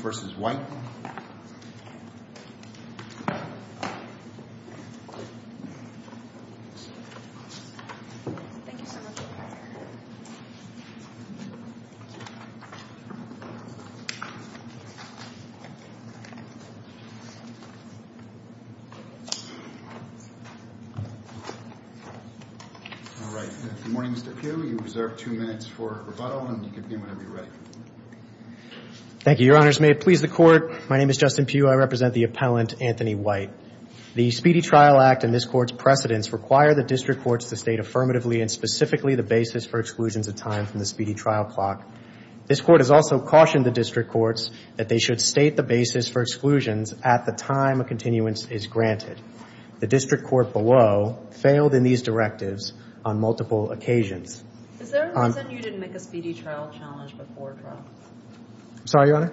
All right. Good morning, Mr. Pugh. You reserve two minutes for rebuttal, and you can begin whenever you're ready. Thank you, Your Honors. May it please the Court, my name is Justin Pugh. I represent the appellant, Anthony Whyte. The Speedy Trial Act and this Court's precedents require the District Courts to state affirmatively and specifically the basis for exclusions of time from the Speedy Trial Clock. This Court has also cautioned the District Courts that they should state the basis for exclusions at the time a continuance is granted. The District Court below failed in these directives on multiple occasions. Is there a reason you didn't make a Speedy Trial challenge before trial? I'm sorry, Your Honor?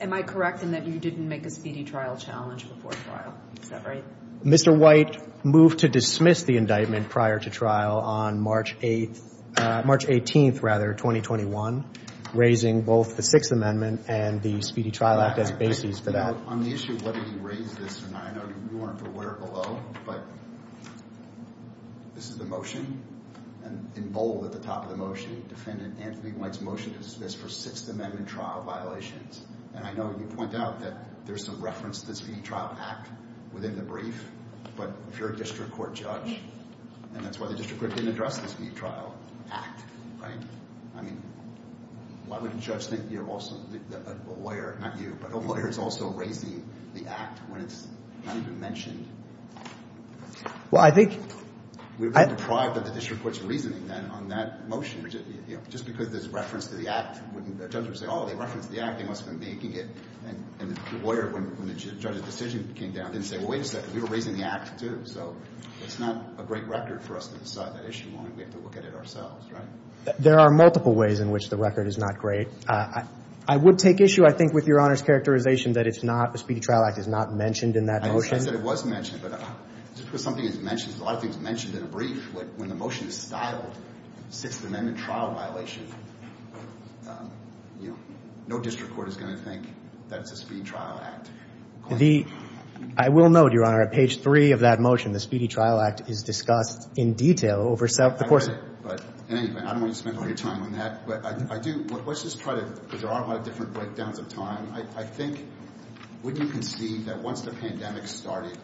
Am I correct in that you didn't make a Speedy Trial challenge before trial? Is that right? Mr. Whyte moved to dismiss the indictment prior to trial on March 8th, March 18th, rather, 2021, raising both the Sixth Amendment and the Speedy Trial Act as basis for that. On the issue of whether he raised this, and I know you weren't aware below, but this is the motion, and in bold at the top of the motion, Defendant Anthony Whyte's motion to dismiss for Sixth Amendment trial violations. And I know you point out that there's some reference to the Speedy Trial Act within the brief, but if you're a District Court judge, and that's why the District Court didn't address the Speedy Trial Act, right? I mean, why would a judge think you're also, a lawyer, not you, but a lawyer is also raising the Act when it's not even mentioned? Well, I think. We've been deprived of the District Court's reasoning, then, on that motion. Just because there's reference to the Act, judges would say, oh, they referenced the Act, they must have been making it, and the lawyer, when the judge's decision came down, didn't say, well, wait a second, we were raising the Act, too. So it's not a great record for us to decide that issue, and we have to look at it ourselves, right? There are multiple ways in which the record is not great. I would take issue, I think, with Your Honor's characterization that it's not, the Speedy Trial Act is not mentioned in that motion. I know you said it was mentioned, but just because something is mentioned, because a lot of things are mentioned in a brief, when the motion is styled Sixth Amendment trial violation, you know, no District Court is going to think that it's a Speedy Trial Act claim. The, I will note, Your Honor, at page three of that motion, the Speedy Trial Act is discussed in detail over several, of course. But anyway, I don't want you to spend all your time on that, but I do, let's just try to, because there are a lot of different breakdowns of time. I think, wouldn't you concede that once the pandemic started,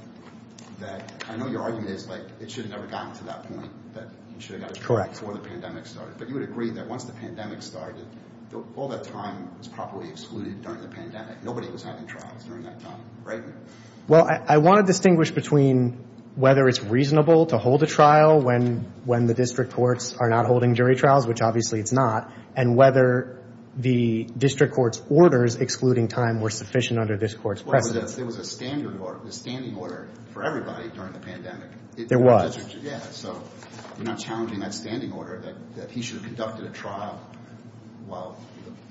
that, I know your argument is, like, it should have never gotten to that point, that you should have got it before the pandemic started. But you would agree that once the pandemic started, all that time was properly excluded during the pandemic. Nobody was having trials during that time, right? Well, I want to distinguish between whether it's reasonable to hold a trial when the District Courts are not holding jury trials, which obviously it's not, and whether the District Court's orders excluding time were sufficient under this Court's precedence. There was a standard order, a standing order for everybody during the pandemic. There was. Yeah, so you're not challenging that standing order that he should have conducted a trial while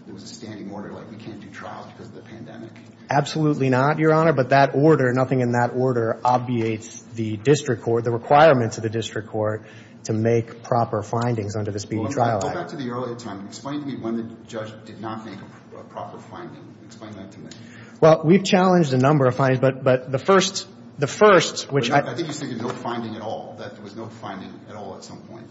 there was a standing order, like we can't do trials because of the pandemic. Absolutely not, Your Honor. But that order, nothing in that order obviates the District Court, or the requirements of the District Court to make proper findings under the speeding trial act. Go back to the early time. Explain to me when the judge did not make a proper finding. Explain that to me. Well, we've challenged a number of findings, but the first, the first, which I... I think you're saying no finding at all, that there was no finding at all at some point,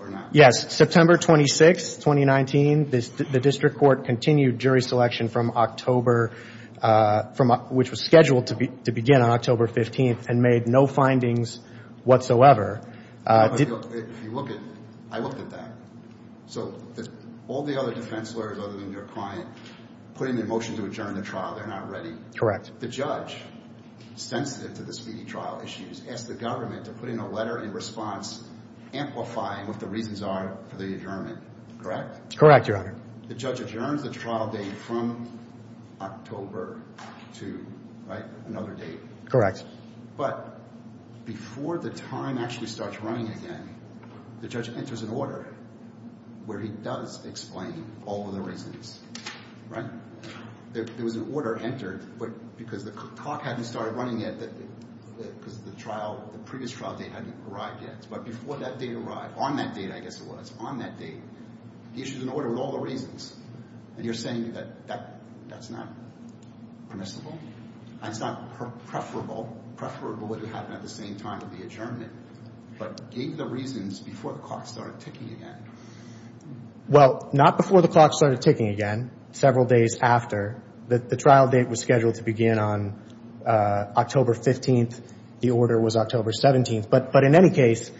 or not. Yes. September 26, 2019, the District Court continued jury selection from October, which was scheduled to begin on October 15th, and made no findings whatsoever. If you look at... I looked at that. So all the other defense lawyers other than your client put in a motion to adjourn the trial. They're not ready. Correct. The judge, sensitive to the speeding trial issues, asked the government to put in a letter in response, amplifying what the reasons are for the adjournment, correct? Correct, Your Honor. The judge adjourns the trial date from October 2, right? Another date. Correct. But before the time actually starts running again, the judge enters an order where he does explain all of the reasons, right? There was an order entered, but because the clock hadn't started running yet, because the trial, the previous trial date hadn't arrived yet. But before that date arrived, on that date I guess it was, on that date, he issued an order with all the reasons. And you're saying that that's not permissible? That's not preferable? Preferable would have happened at the same time of the adjournment, but gave the reasons before the clock started ticking again. Well, not before the clock started ticking again. Several days after. The trial date was scheduled to begin on October 15th. The order was October 17th. But in any case,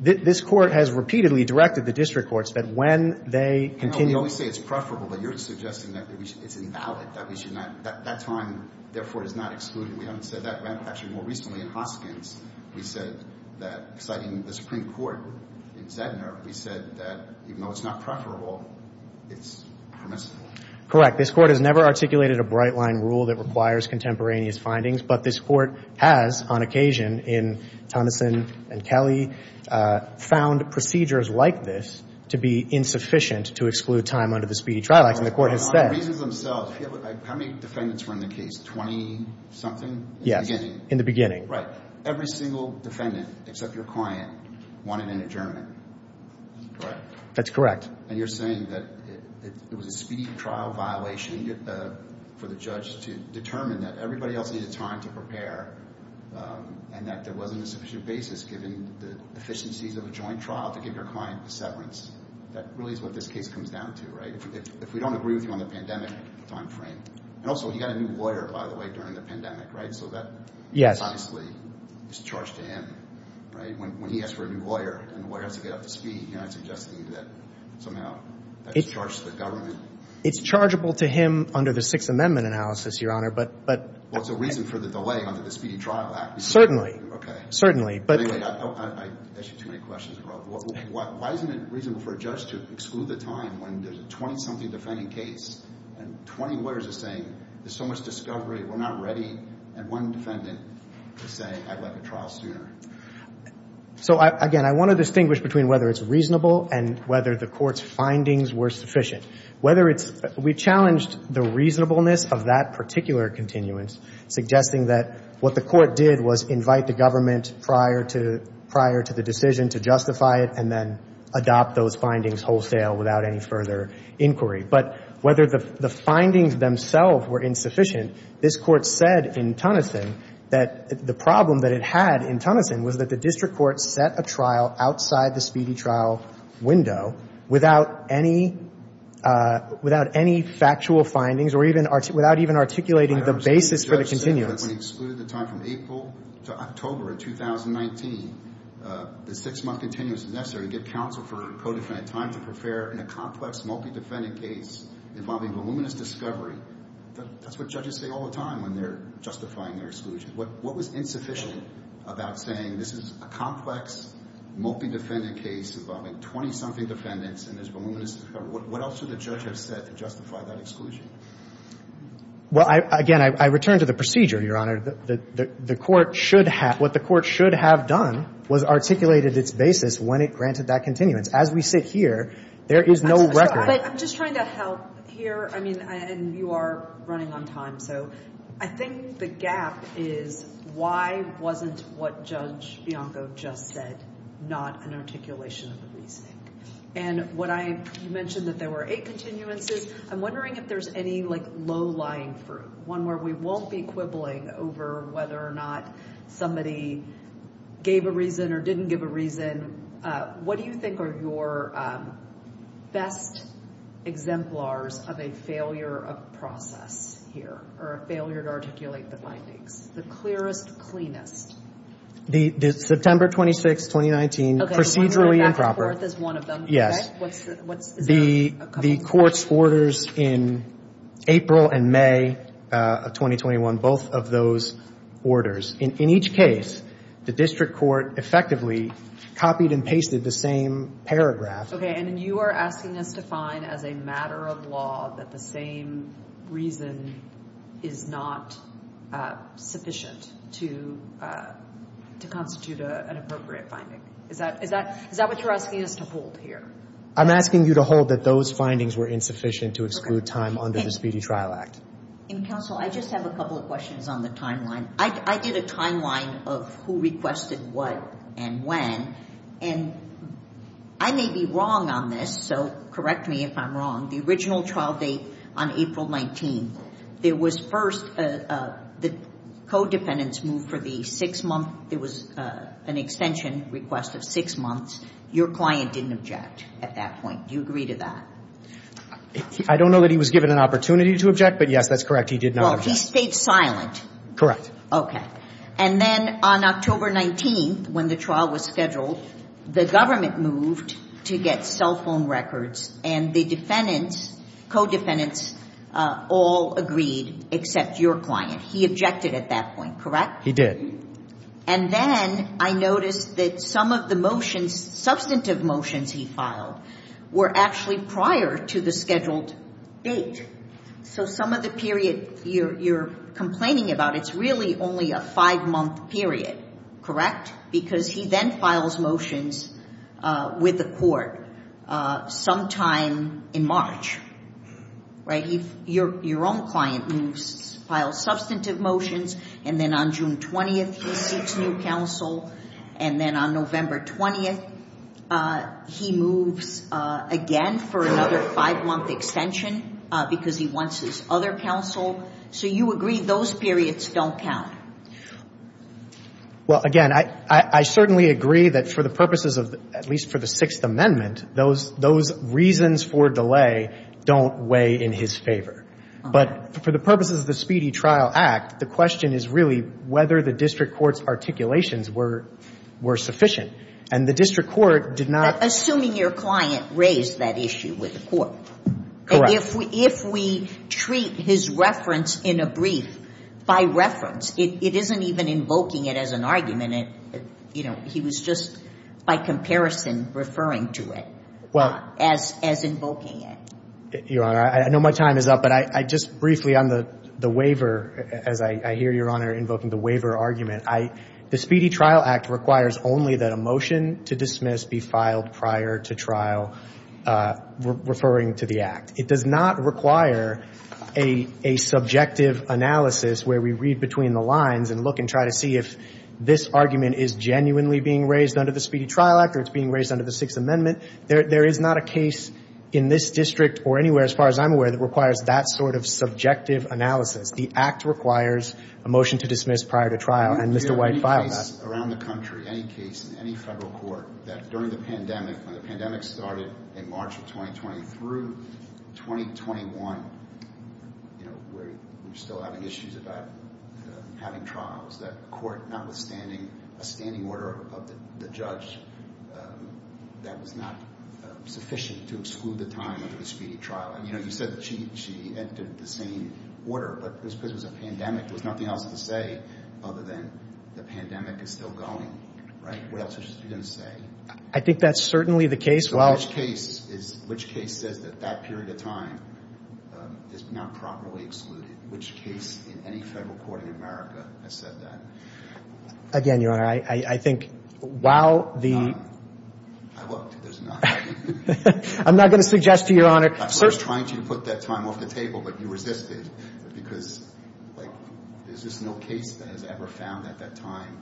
this Court has repeatedly directed the district courts that when they continue to... We always say it's preferable, but you're suggesting that it's invalid, that we should not, that that time, therefore, is not excluded. We haven't said that. Actually, more recently in Hoskins, we said that, citing the Supreme Court in Zedner, we said that even though it's not preferable, it's permissible. Correct. This Court has never articulated a bright-line rule that requires contemporaneous findings, but this Court has, on occasion, in Tonneson and Kelly, found procedures like this to be insufficient to exclude time under the speedy trial act, and the Court has said... On the reasons themselves, how many defendants were in the case? Twenty-something in the beginning? Yes, in the beginning. Right. Every single defendant, except your client, wanted an adjournment, correct? That's correct. And you're saying that it was a speedy trial violation for the judge to determine that everybody else needed time to prepare and that there wasn't a sufficient basis, given the efficiencies of a joint trial, to give your client a severance. That really is what this case comes down to, right? If we don't agree with you on the pandemic timeframe. And also, he got a new lawyer, by the way, during the pandemic, right? So that... Yes. ...is obviously charged to him, right? When he asks for a new lawyer and the lawyer has to get up to speed, you're not suggesting that somehow that's charged to the government. It's chargeable to him under the Sixth Amendment analysis, Your Honor, but... Well, it's a reason for the delay under the Speedy Trial Act. Certainly. Okay. Certainly, but... Anyway, I see too many questions. Why isn't it reasonable for a judge to exclude the time when there's a twenty-something defending case and twenty lawyers are saying, there's so much discovery, we're not ready, and one defendant is saying, I'd like a trial sooner? So, again, I want to distinguish between whether it's reasonable and whether the court's findings were sufficient. We challenged the reasonableness of that particular continuance, suggesting that what the court did was invite the government prior to the decision to justify it and then adopt those findings wholesale without any further inquiry. But whether the findings themselves were insufficient, this Court said in Tunison that the problem that it had in Tunison was that the district court set a trial outside the speedy trial window without any factual findings or without even articulating the basis for the continuance. I understand the judge said that when he excluded the time from April to October of 2019, the six-month continuance is necessary to get counsel for co-defendant time to prepare in a complex multi-defendant case involving voluminous discovery. That's what judges say all the time when they're justifying their exclusion. What was insufficient about saying this is a complex multi-defendant case involving 20-something defendants and there's voluminous discovery? What else should the judge have said to justify that exclusion? Well, again, I return to the procedure, Your Honor. The court should have – what the court should have done was articulated its basis when it granted that continuance. As we sit here, there is no record. But I'm just trying to help here. I mean, and you are running on time, so I think the gap is why wasn't what Judge Bianco just said not an articulation of the reasoning? And what I – you mentioned that there were eight continuances. I'm wondering if there's any, like, low-lying fruit, one where we won't be quibbling over whether or not somebody gave a reason or didn't give a reason. What do you think are your best exemplars of a failure of process here or a failure to articulate the findings, the clearest, cleanest? September 26, 2019, procedurally improper. Okay, so we know that court is one of them. Yes. What's the – The court's orders in April and May of 2021, both of those orders. In each case, the district court effectively copied and pasted the same paragraph. Okay, and then you are asking us to find as a matter of law that the same reason is not sufficient to constitute an appropriate finding. Is that what you're asking us to hold here? I'm asking you to hold that those findings were insufficient to exclude time under the Speedy Trial Act. And, counsel, I just have a couple of questions on the timeline. I did a timeline of who requested what and when, and I may be wrong on this, so correct me if I'm wrong. The original trial date on April 19th, there was first the codependents moved for the six-month – there was an extension request of six months. Your client didn't object at that point. Do you agree to that? I don't know that he was given an opportunity to object, but, yes, that's correct. He did not object. Well, he stayed silent. Correct. Okay. And then on October 19th, when the trial was scheduled, the government moved to get cell phone records and the defendants, codependents, all agreed except your client. He objected at that point, correct? He did. And then I noticed that some of the motions, substantive motions he filed, were actually prior to the scheduled date. So some of the period you're complaining about, it's really only a five-month period, correct? Because he then files motions with the court sometime in March, right? Your own client moves, files substantive motions, and then on June 20th, he seeks new counsel. And then on November 20th, he moves again for another five-month extension because he wants his other counsel. So you agree those periods don't count? Well, again, I certainly agree that for the purposes of at least for the Sixth Amendment, those reasons for delay don't weigh in his favor. But for the purposes of the Speedy Trial Act, the question is really whether the district court's articulations were sufficient. And the district court did not assume your client raised that issue with the court. Correct. If we treat his reference in a brief by reference, it isn't even invoking it as an argument. He was just by comparison referring to it as invoking it. Your Honor, I know my time is up, but just briefly on the waiver, as I hear Your Honor invoking the waiver argument, the Speedy Trial Act requires only that a motion to dismiss be filed prior to trial referring to the act. It does not require a subjective analysis where we read between the lines and look and try to see if this argument is genuinely being raised under the Speedy Trial Act or it's being raised under the Sixth Amendment. There is not a case in this district or anywhere, as far as I'm aware, that requires that sort of subjective analysis. The act requires a motion to dismiss prior to trial. And Mr. White filed that. Any case around the country, any case in any federal court, that during the pandemic, when the pandemic started in March of 2020, through 2021, you know, we're still having issues about having trials, that court, notwithstanding a standing order of the judge, that was not sufficient to exclude the time of the Speedy Trial Act. You know, you said that she entered the same order, but because it was a pandemic, there was nothing else to say other than the pandemic is still going, right? What else is she going to say? I think that's certainly the case. So which case says that that period of time is not properly excluded? Which case in any federal court in America has said that? Again, Your Honor, I think while the – I looked. There's none. I'm not going to suggest to Your Honor – I was trying to put that time off the table, but you resisted, because, like, there's just no case that has ever found at that time.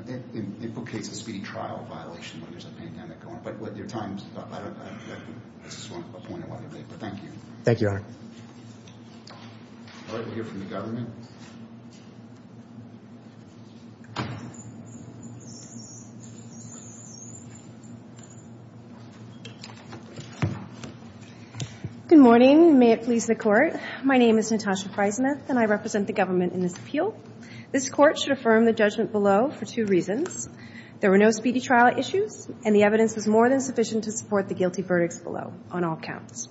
It becomes a speedy trial violation when there's a pandemic going on. But with your time, I just want to point it out. But thank you. Thank you, Your Honor. All right, we'll hear from the government. Good morning. May it please the Court. My name is Natasha Priesmith, and I represent the government in this appeal. This Court should affirm the judgment below for two reasons. There were no speedy trial issues, and the evidence was more than sufficient to support the guilty verdicts below, on all counts.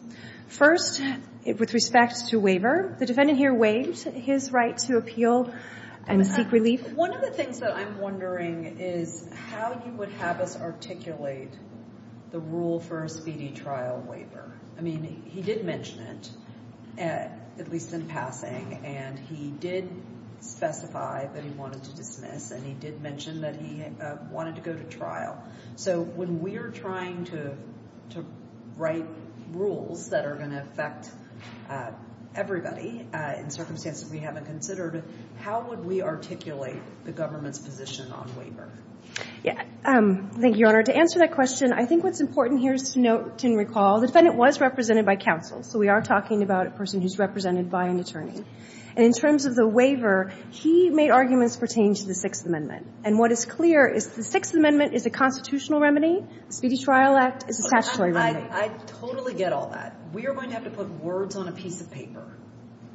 First, with respect to waiver, the defendant here waived his right to appeal and seek relief. One of the things that I'm wondering is how you would have us articulate the rule for a speedy trial waiver. I mean, he did mention it, at least in passing, and he did specify that he wanted to dismiss, and he did mention that he wanted to go to trial. So when we're trying to write rules that are going to affect everybody in circumstances we haven't considered, how would we articulate the government's position on waiver? Thank you, Your Honor. To answer that question, I think what's important here is to note and recall the defendant was represented by counsel, so we are talking about a person who's represented by an attorney. And in terms of the waiver, he made arguments pertaining to the Sixth Amendment. And what is clear is the Sixth Amendment is a constitutional remedy. The Speedy Trial Act is a statutory remedy. I totally get all that. We are going to have to put words on a piece of paper,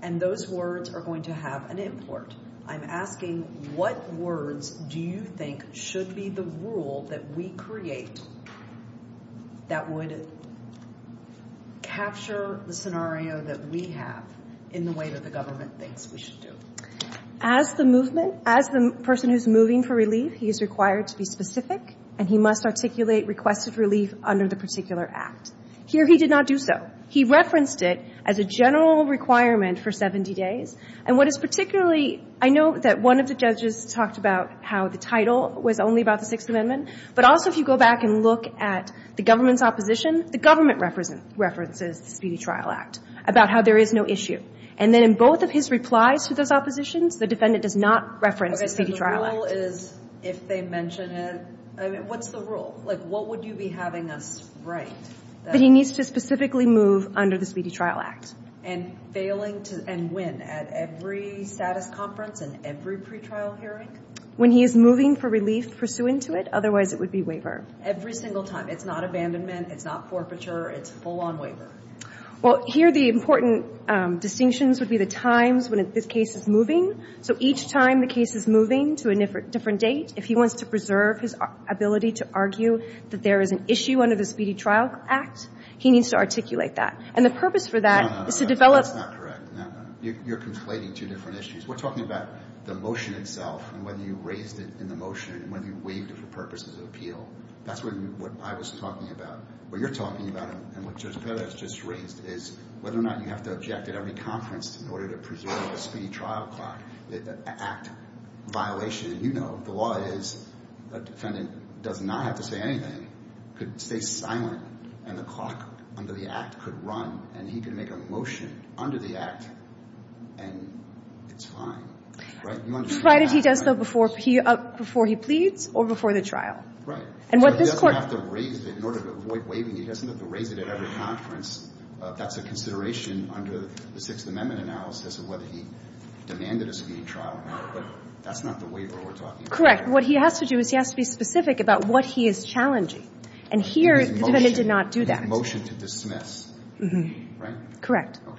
and those words are going to have an import. I'm asking what words do you think should be the rule that we create that would capture the scenario that we have in the way that the government thinks we should do? As the movement, as the person who's moving for relief, he is required to be specific, and he must articulate requested relief under the particular act. Here he did not do so. He referenced it as a general requirement for 70 days. And what is particularly, I know that one of the judges talked about how the title was only about the Sixth Amendment, but also if you go back and look at the government's opposition, the government references the Speedy Trial Act, about how there is no issue. And then in both of his replies to those oppositions, the defendant does not reference the Speedy Trial Act. Okay, so the rule is if they mention it, what's the rule? Like what would you be having us write? That he needs to specifically move under the Speedy Trial Act. And failing to, and when? At every status conference and every pretrial hearing? When he is moving for relief pursuant to it, otherwise it would be waiver. Every single time. It's not abandonment. It's not forfeiture. It's full-on waiver. Well, here the important distinctions would be the times when this case is moving. So each time the case is moving to a different date, if he wants to preserve his ability to argue that there is an issue under the Speedy Trial Act, he needs to articulate that. And the purpose for that is to develop. That's not correct. You're conflating two different issues. We're talking about the motion itself and whether you raised it in the motion and whether you waived it for purposes of appeal. That's what I was talking about. What you're talking about and what Judge Perez just raised is whether or not you have to object at every conference in order to preserve the Speedy Trial Act violation. And you know the law is a defendant does not have to say anything, could stay silent, and the clock under the Act could run and he could make a motion under the Act and it's fine. Right? You understand that. Provided he does so before he pleads or before the trial. Right. So he doesn't have to raise it in order to avoid waiving. He doesn't have to raise it at every conference. That's a consideration under the Sixth Amendment analysis of whether he demanded a Speedy Trial Act. But that's not the waiver we're talking about. Correct. What he has to do is he has to be specific about what he is challenging. And here the defendant did not do that. And his motion to dismiss. Right? Correct. Okay.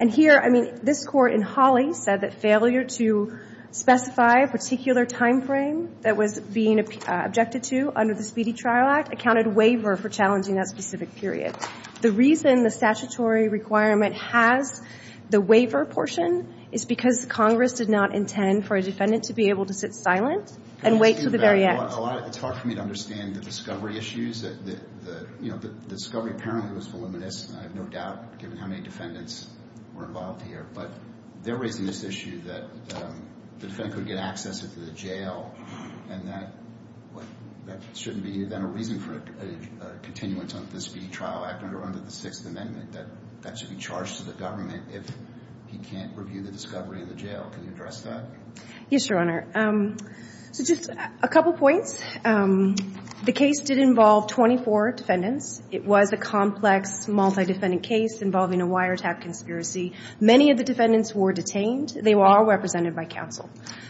And here, I mean, this Court in Hawley said that failure to specify a particular timeframe that was being objected to under the Speedy Trial Act accounted waiver for challenging that specific period. The reason the statutory requirement has the waiver portion is because Congress did not intend for a defendant to be able to sit silent and wait until the very end. It's hard for me to understand the discovery issues. You know, the discovery apparently was voluminous. I have no doubt given how many defendants were involved here. But they're raising this issue that the defendant could get access into the jail. And that shouldn't be then a reason for a continuance under the Speedy Trial Act under the Sixth Amendment. That should be charged to the government if he can't review the discovery in the Can you address that? Yes, Your Honor. So just a couple points. The case did involve 24 defendants. It was a complex, multi-defendant case involving a wiretap conspiracy. Many of the defendants were detained. They were all represented by counsel.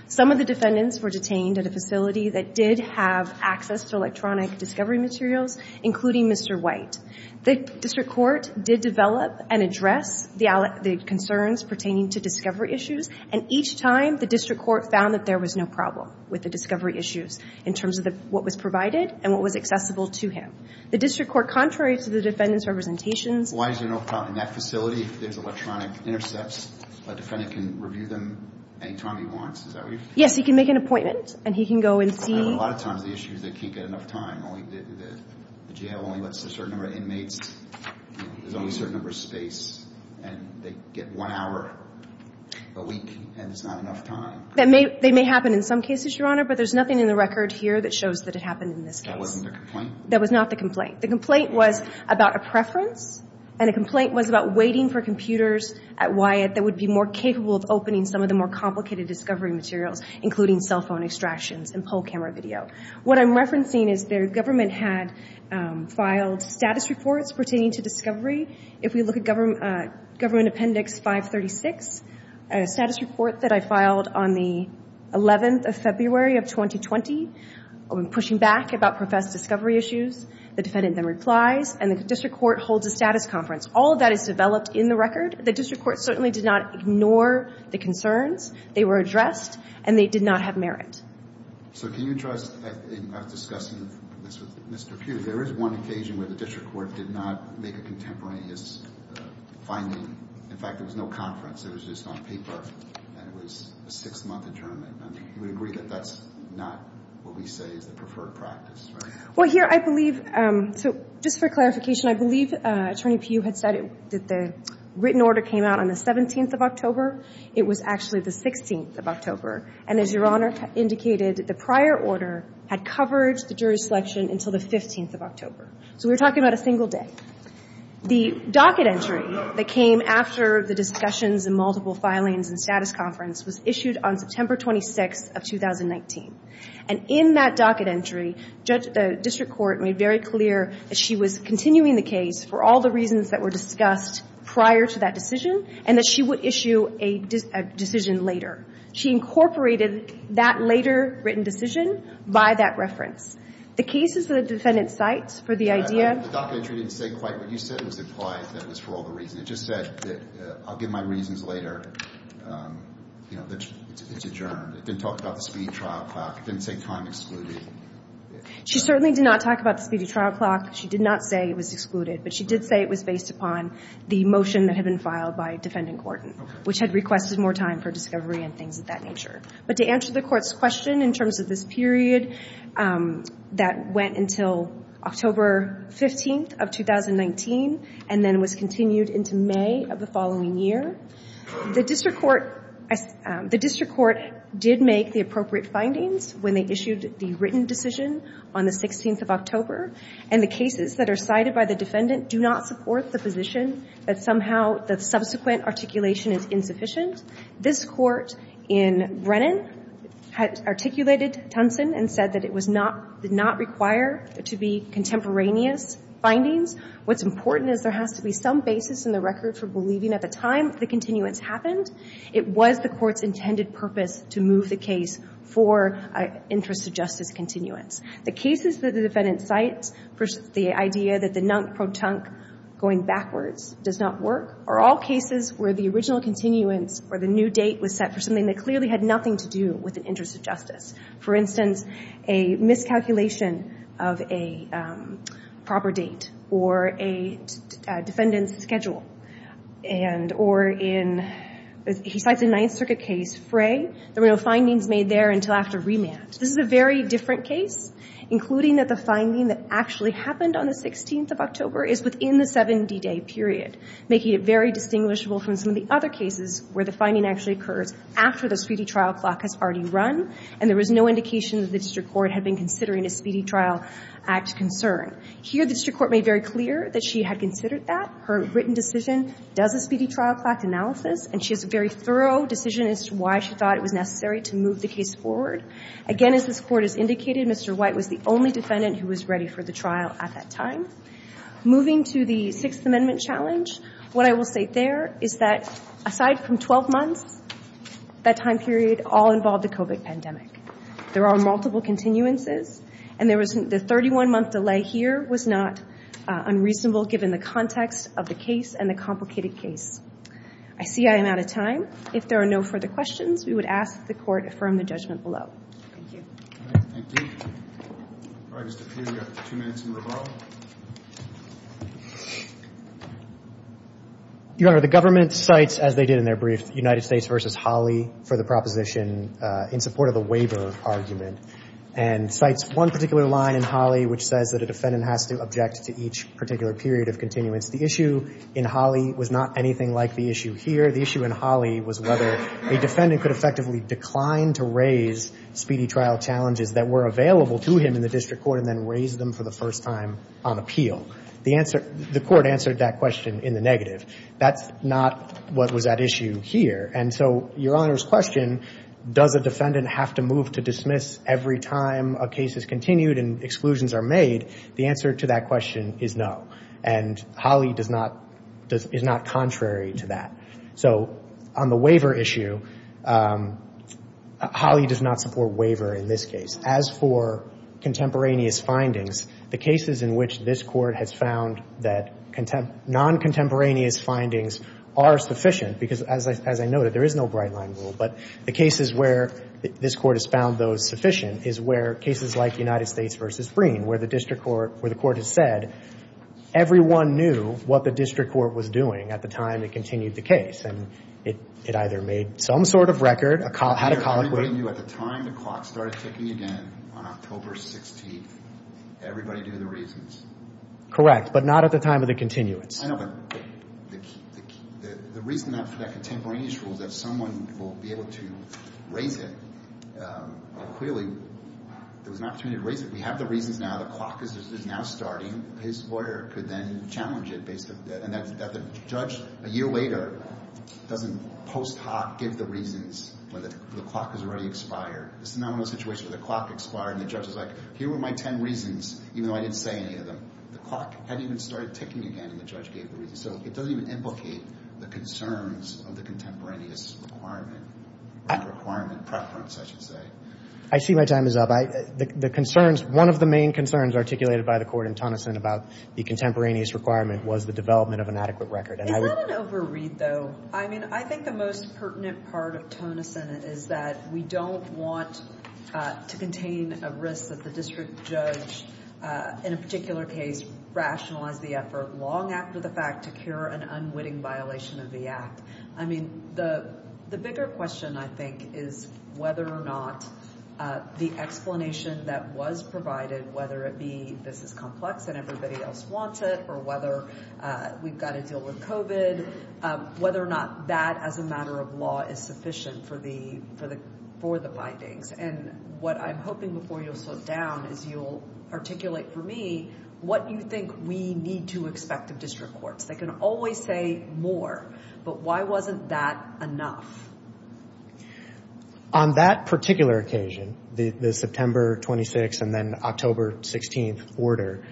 Some of the defendants were detained at a facility that did have access to electronic discovery materials, including Mr. White. The district court did develop and address the concerns pertaining to discovery issues. And each time, the district court found that there was no problem with the discovery issues in terms of what was provided and what was accessible to him. The district court, contrary to the defendant's representations Why is there no problem in that facility if there's electronic intercepts? A defendant can review them any time he wants. Is that what you're saying? Yes, he can make an appointment. And he can go and see A lot of times, the issue is they can't get enough time. The jail only lets a certain number of inmates. There's only a certain number of space. And they get one hour a week, and it's not enough time. They may happen in some cases, Your Honor. But there's nothing in the record here that shows that it happened in this case. That wasn't the complaint? That was not the complaint. The complaint was about a preference, and the complaint was about waiting for computers at Wyatt that would be more capable of opening some of the more complicated discovery materials, including cell phone extractions and poll camera video. What I'm referencing is the government had filed status reports pertaining to discovery. If we look at Government Appendix 536, a status report that I filed on the 11th of February of 2020, I'm pushing back about professed discovery issues. The defendant then replies, and the district court holds a status conference. All of that is developed in the record. The district court certainly did not ignore the concerns. They were addressed, and they did not have merit. So can you address, after discussing this with Mr. Pugh, there is one occasion where the district court did not make a contemporaneous finding. In fact, there was no conference. It was just on paper, and it was a six-month interment. You would agree that that's not what we say is the preferred practice, right? Well, here, I believe, so just for clarification, I believe Attorney Pugh had said that the written order came out on the 17th of October. It was actually the 16th of October, and as Your Honor indicated, the prior order had covered the jury selection until the 15th of October. So we're talking about a single day. The docket entry that came after the discussions and multiple filings and status conference was issued on September 26th of 2019. And in that docket entry, the district court made very clear that she was continuing the case for all the reasons that were discussed prior to that decision and that she would issue a decision later. She incorporated that later written decision by that reference. The cases that the defendant cites for the idea of the docket entry didn't say quite what you said. It was implied that it was for all the reasons. It just said that I'll give my reasons later. You know, it's adjourned. It didn't talk about the speedy trial clock. It didn't say time excluded. She certainly did not talk about the speedy trial clock. She did not say it was excluded, but she did say it was based upon the motion that had been filed by Defendant Gordon, which had requested more time for discovery and things of that nature. But to answer the Court's question in terms of this period that went until October 15th of 2019 and then was continued into May of the following year, the district court did make the appropriate findings when they issued the written decision on the 16th of October. And the cases that are cited by the defendant do not support the position that somehow the subsequent articulation is insufficient. This Court in Brennan articulated Tunson and said that it did not require to be contemporaneous findings. What's important is there has to be some basis in the record for believing at the time the continuance happened. It was the Court's intended purpose to move the case for an interest of justice continuance. The cases that the defendant cites, the idea that the non-protunct going backwards does not work, are all cases where the original continuance or the new date was set for something that clearly had nothing to do with an interest of justice. For instance, a miscalculation of a proper date or a defendant's schedule. And or in, he cites a Ninth Circuit case, Fray. There were no findings made there until after remand. This is a very different case, including that the finding that actually happened on the 16th of October is within the 70-day period, making it very distinguishable from some of the other cases where the finding actually occurs after the speedy trial clock has already run and there was no indication that the district court had been considering a speedy trial act concern. Here, the district court made very clear that she had considered that. Her written decision does a speedy trial clock analysis, and she has a very thorough decision as to why she thought it was necessary to move the case forward. Again, as this Court has indicated, Mr. White was the only defendant who was ready for the trial at that time. Moving to the Sixth Amendment challenge, what I will say there is that aside from 12 months, that time period all involved the COVID pandemic. There are multiple continuances, and the 31-month delay here was not unreasonable given the context of the case and the complicated case. I see I am out of time. If there are no further questions, we would ask that the Court affirm the judgment below. Thank you. All right, thank you. All right, Mr. Peer, you have two minutes in rebar. Your Honor, the government cites, as they did in their brief, United States v. Hawley for the proposition in support of the waiver argument, and cites one particular line in Hawley which says that a defendant has to object to each particular period of continuance. The issue in Hawley was not anything like the issue here. The issue in Hawley was whether a defendant could effectively decline to raise speedy trial challenges that were available to him in the district court and then raise them for the first time. The answer, the Court answered that question in the negative. That's not what was at issue here, and so Your Honor's question, does a defendant have to move to dismiss every time a case is continued and exclusions are made, the answer to that question is no, and Hawley does not, is not contrary to that. So on the waiver issue, Hawley does not support waiver in this case. As for contemporaneous findings, the cases in which this Court has found that non-contemporaneous findings are sufficient, because as I noted, there is no bright-line rule, but the cases where this Court has found those sufficient is where cases like United States v. Breen, where the court has said everyone knew what the district court was doing at the time it continued the case, and it either made some sort of record, had a colloquy. Everybody knew at the time the clock started ticking again on October 16th. Everybody knew the reasons. Correct, but not at the time of the continuance. I know, but the reason for that contemporaneous rule is that someone will be able to raise it. Clearly, there was an opportunity to raise it. We have the reasons now. The clock is now starting. His lawyer could then challenge it based on that, and that the judge a year later doesn't post hoc give the reasons when the clock has already expired. It's a nominal situation where the clock expired, and the judge is like, here were my ten reasons, even though I didn't say any of them. The clock hadn't even started ticking again, and the judge gave the reasons. So it doesn't even implicate the concerns of the contemporaneous requirement, or the requirement preference, I should say. I see my time is up. The concerns, one of the main concerns articulated by the Court in Tonneson about the contemporaneous requirement was the development of an adequate record. Is that an overread, though? I mean, I think the most pertinent part of Tonneson is that we don't want to contain a risk that the district judge, in a particular case, rationalized the effort long after the fact to cure an unwitting violation of the act. I mean, the bigger question, I think, is whether or not the explanation that was provided, whether it be this is complex and everybody else wants it, or whether we've got to deal with COVID, whether or not that, as a matter of law, is sufficient for the findings. And what I'm hoping before you'll slow down is you'll articulate for me what you think we need to expect of district courts. They can always say more, but why wasn't that enough? On that particular occasion, the September 26th and then October 16th order,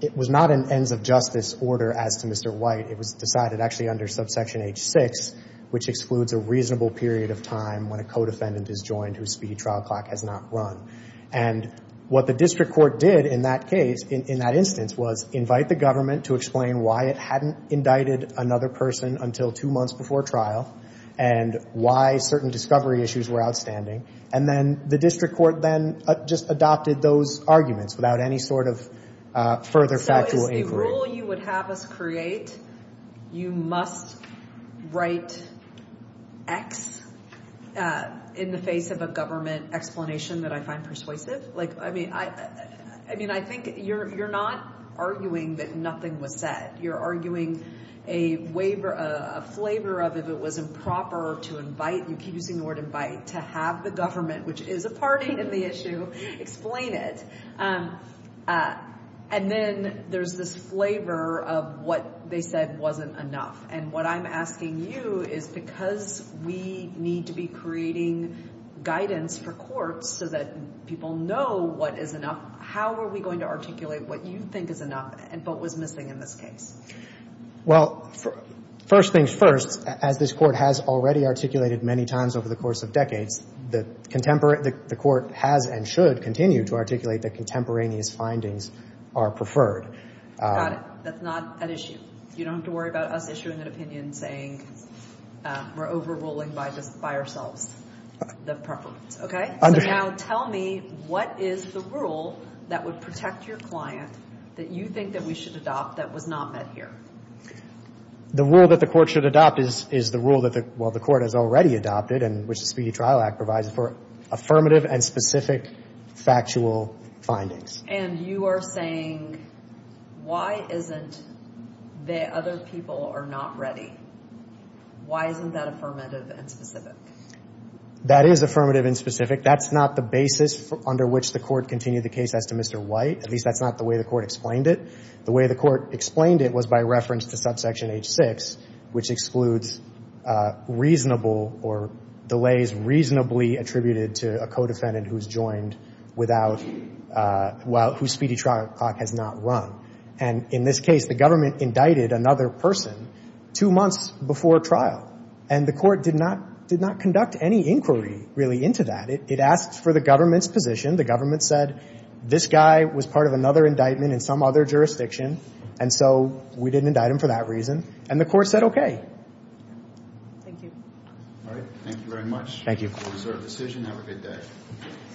it was not an ends of justice order as to Mr. White. It was decided actually under subsection H6, which excludes a reasonable period of time when a co-defendant is joined whose speedy trial clock has not run. And what the district court did in that case, in that instance, was invite the government to explain why it hadn't indicted another person until two months before trial and why certain discovery issues were outstanding. And then the district court then just adopted those arguments without any sort of further factual inquiry. So is the rule you would have us create you must write X in the face of a government explanation that I find persuasive? I mean, I think you're not arguing that nothing was said. You're arguing a flavor of if it was improper to invite, you keep using the word invite, to have the government, which is a party in the issue, explain it. And then there's this flavor of what they said wasn't enough. And what I'm asking you is because we need to be creating guidance for courts so that people know what is enough, how are we going to articulate what you think is enough and what was missing in this case? Well, first things first, as this Court has already articulated many times over the course of decades, the Court has and should continue to articulate that contemporaneous findings are preferred. Got it. That's not an issue. You don't have to worry about us issuing an opinion saying we're overruling by ourselves the preference. Okay? So now tell me what is the rule that would protect your client that you think that we should adopt that was not met here? The rule that the Court should adopt is the rule that the Court has already adopted and which the Speedy Trial Act provides for affirmative and specific factual findings. And you are saying why isn't the other people are not ready? Why isn't that affirmative and specific? That is affirmative and specific. That's not the basis under which the Court continued the case as to Mr. White. At least that's not the way the Court explained it. The way the Court explained it was by reference to subsection H-6, which excludes reasonable or delays reasonably attributed to a co-defendant who's joined without, whose speedy trial clock has not run. And in this case, the government indicted another person two months before trial, and the Court did not conduct any inquiry really into that. It asked for the government's position. The government said this guy was part of another indictment in some other jurisdiction, and so we didn't indict him for that reason, and the Court said okay. Thank you. All right. Thank you very much. Thank you. This is our decision. Have a good day.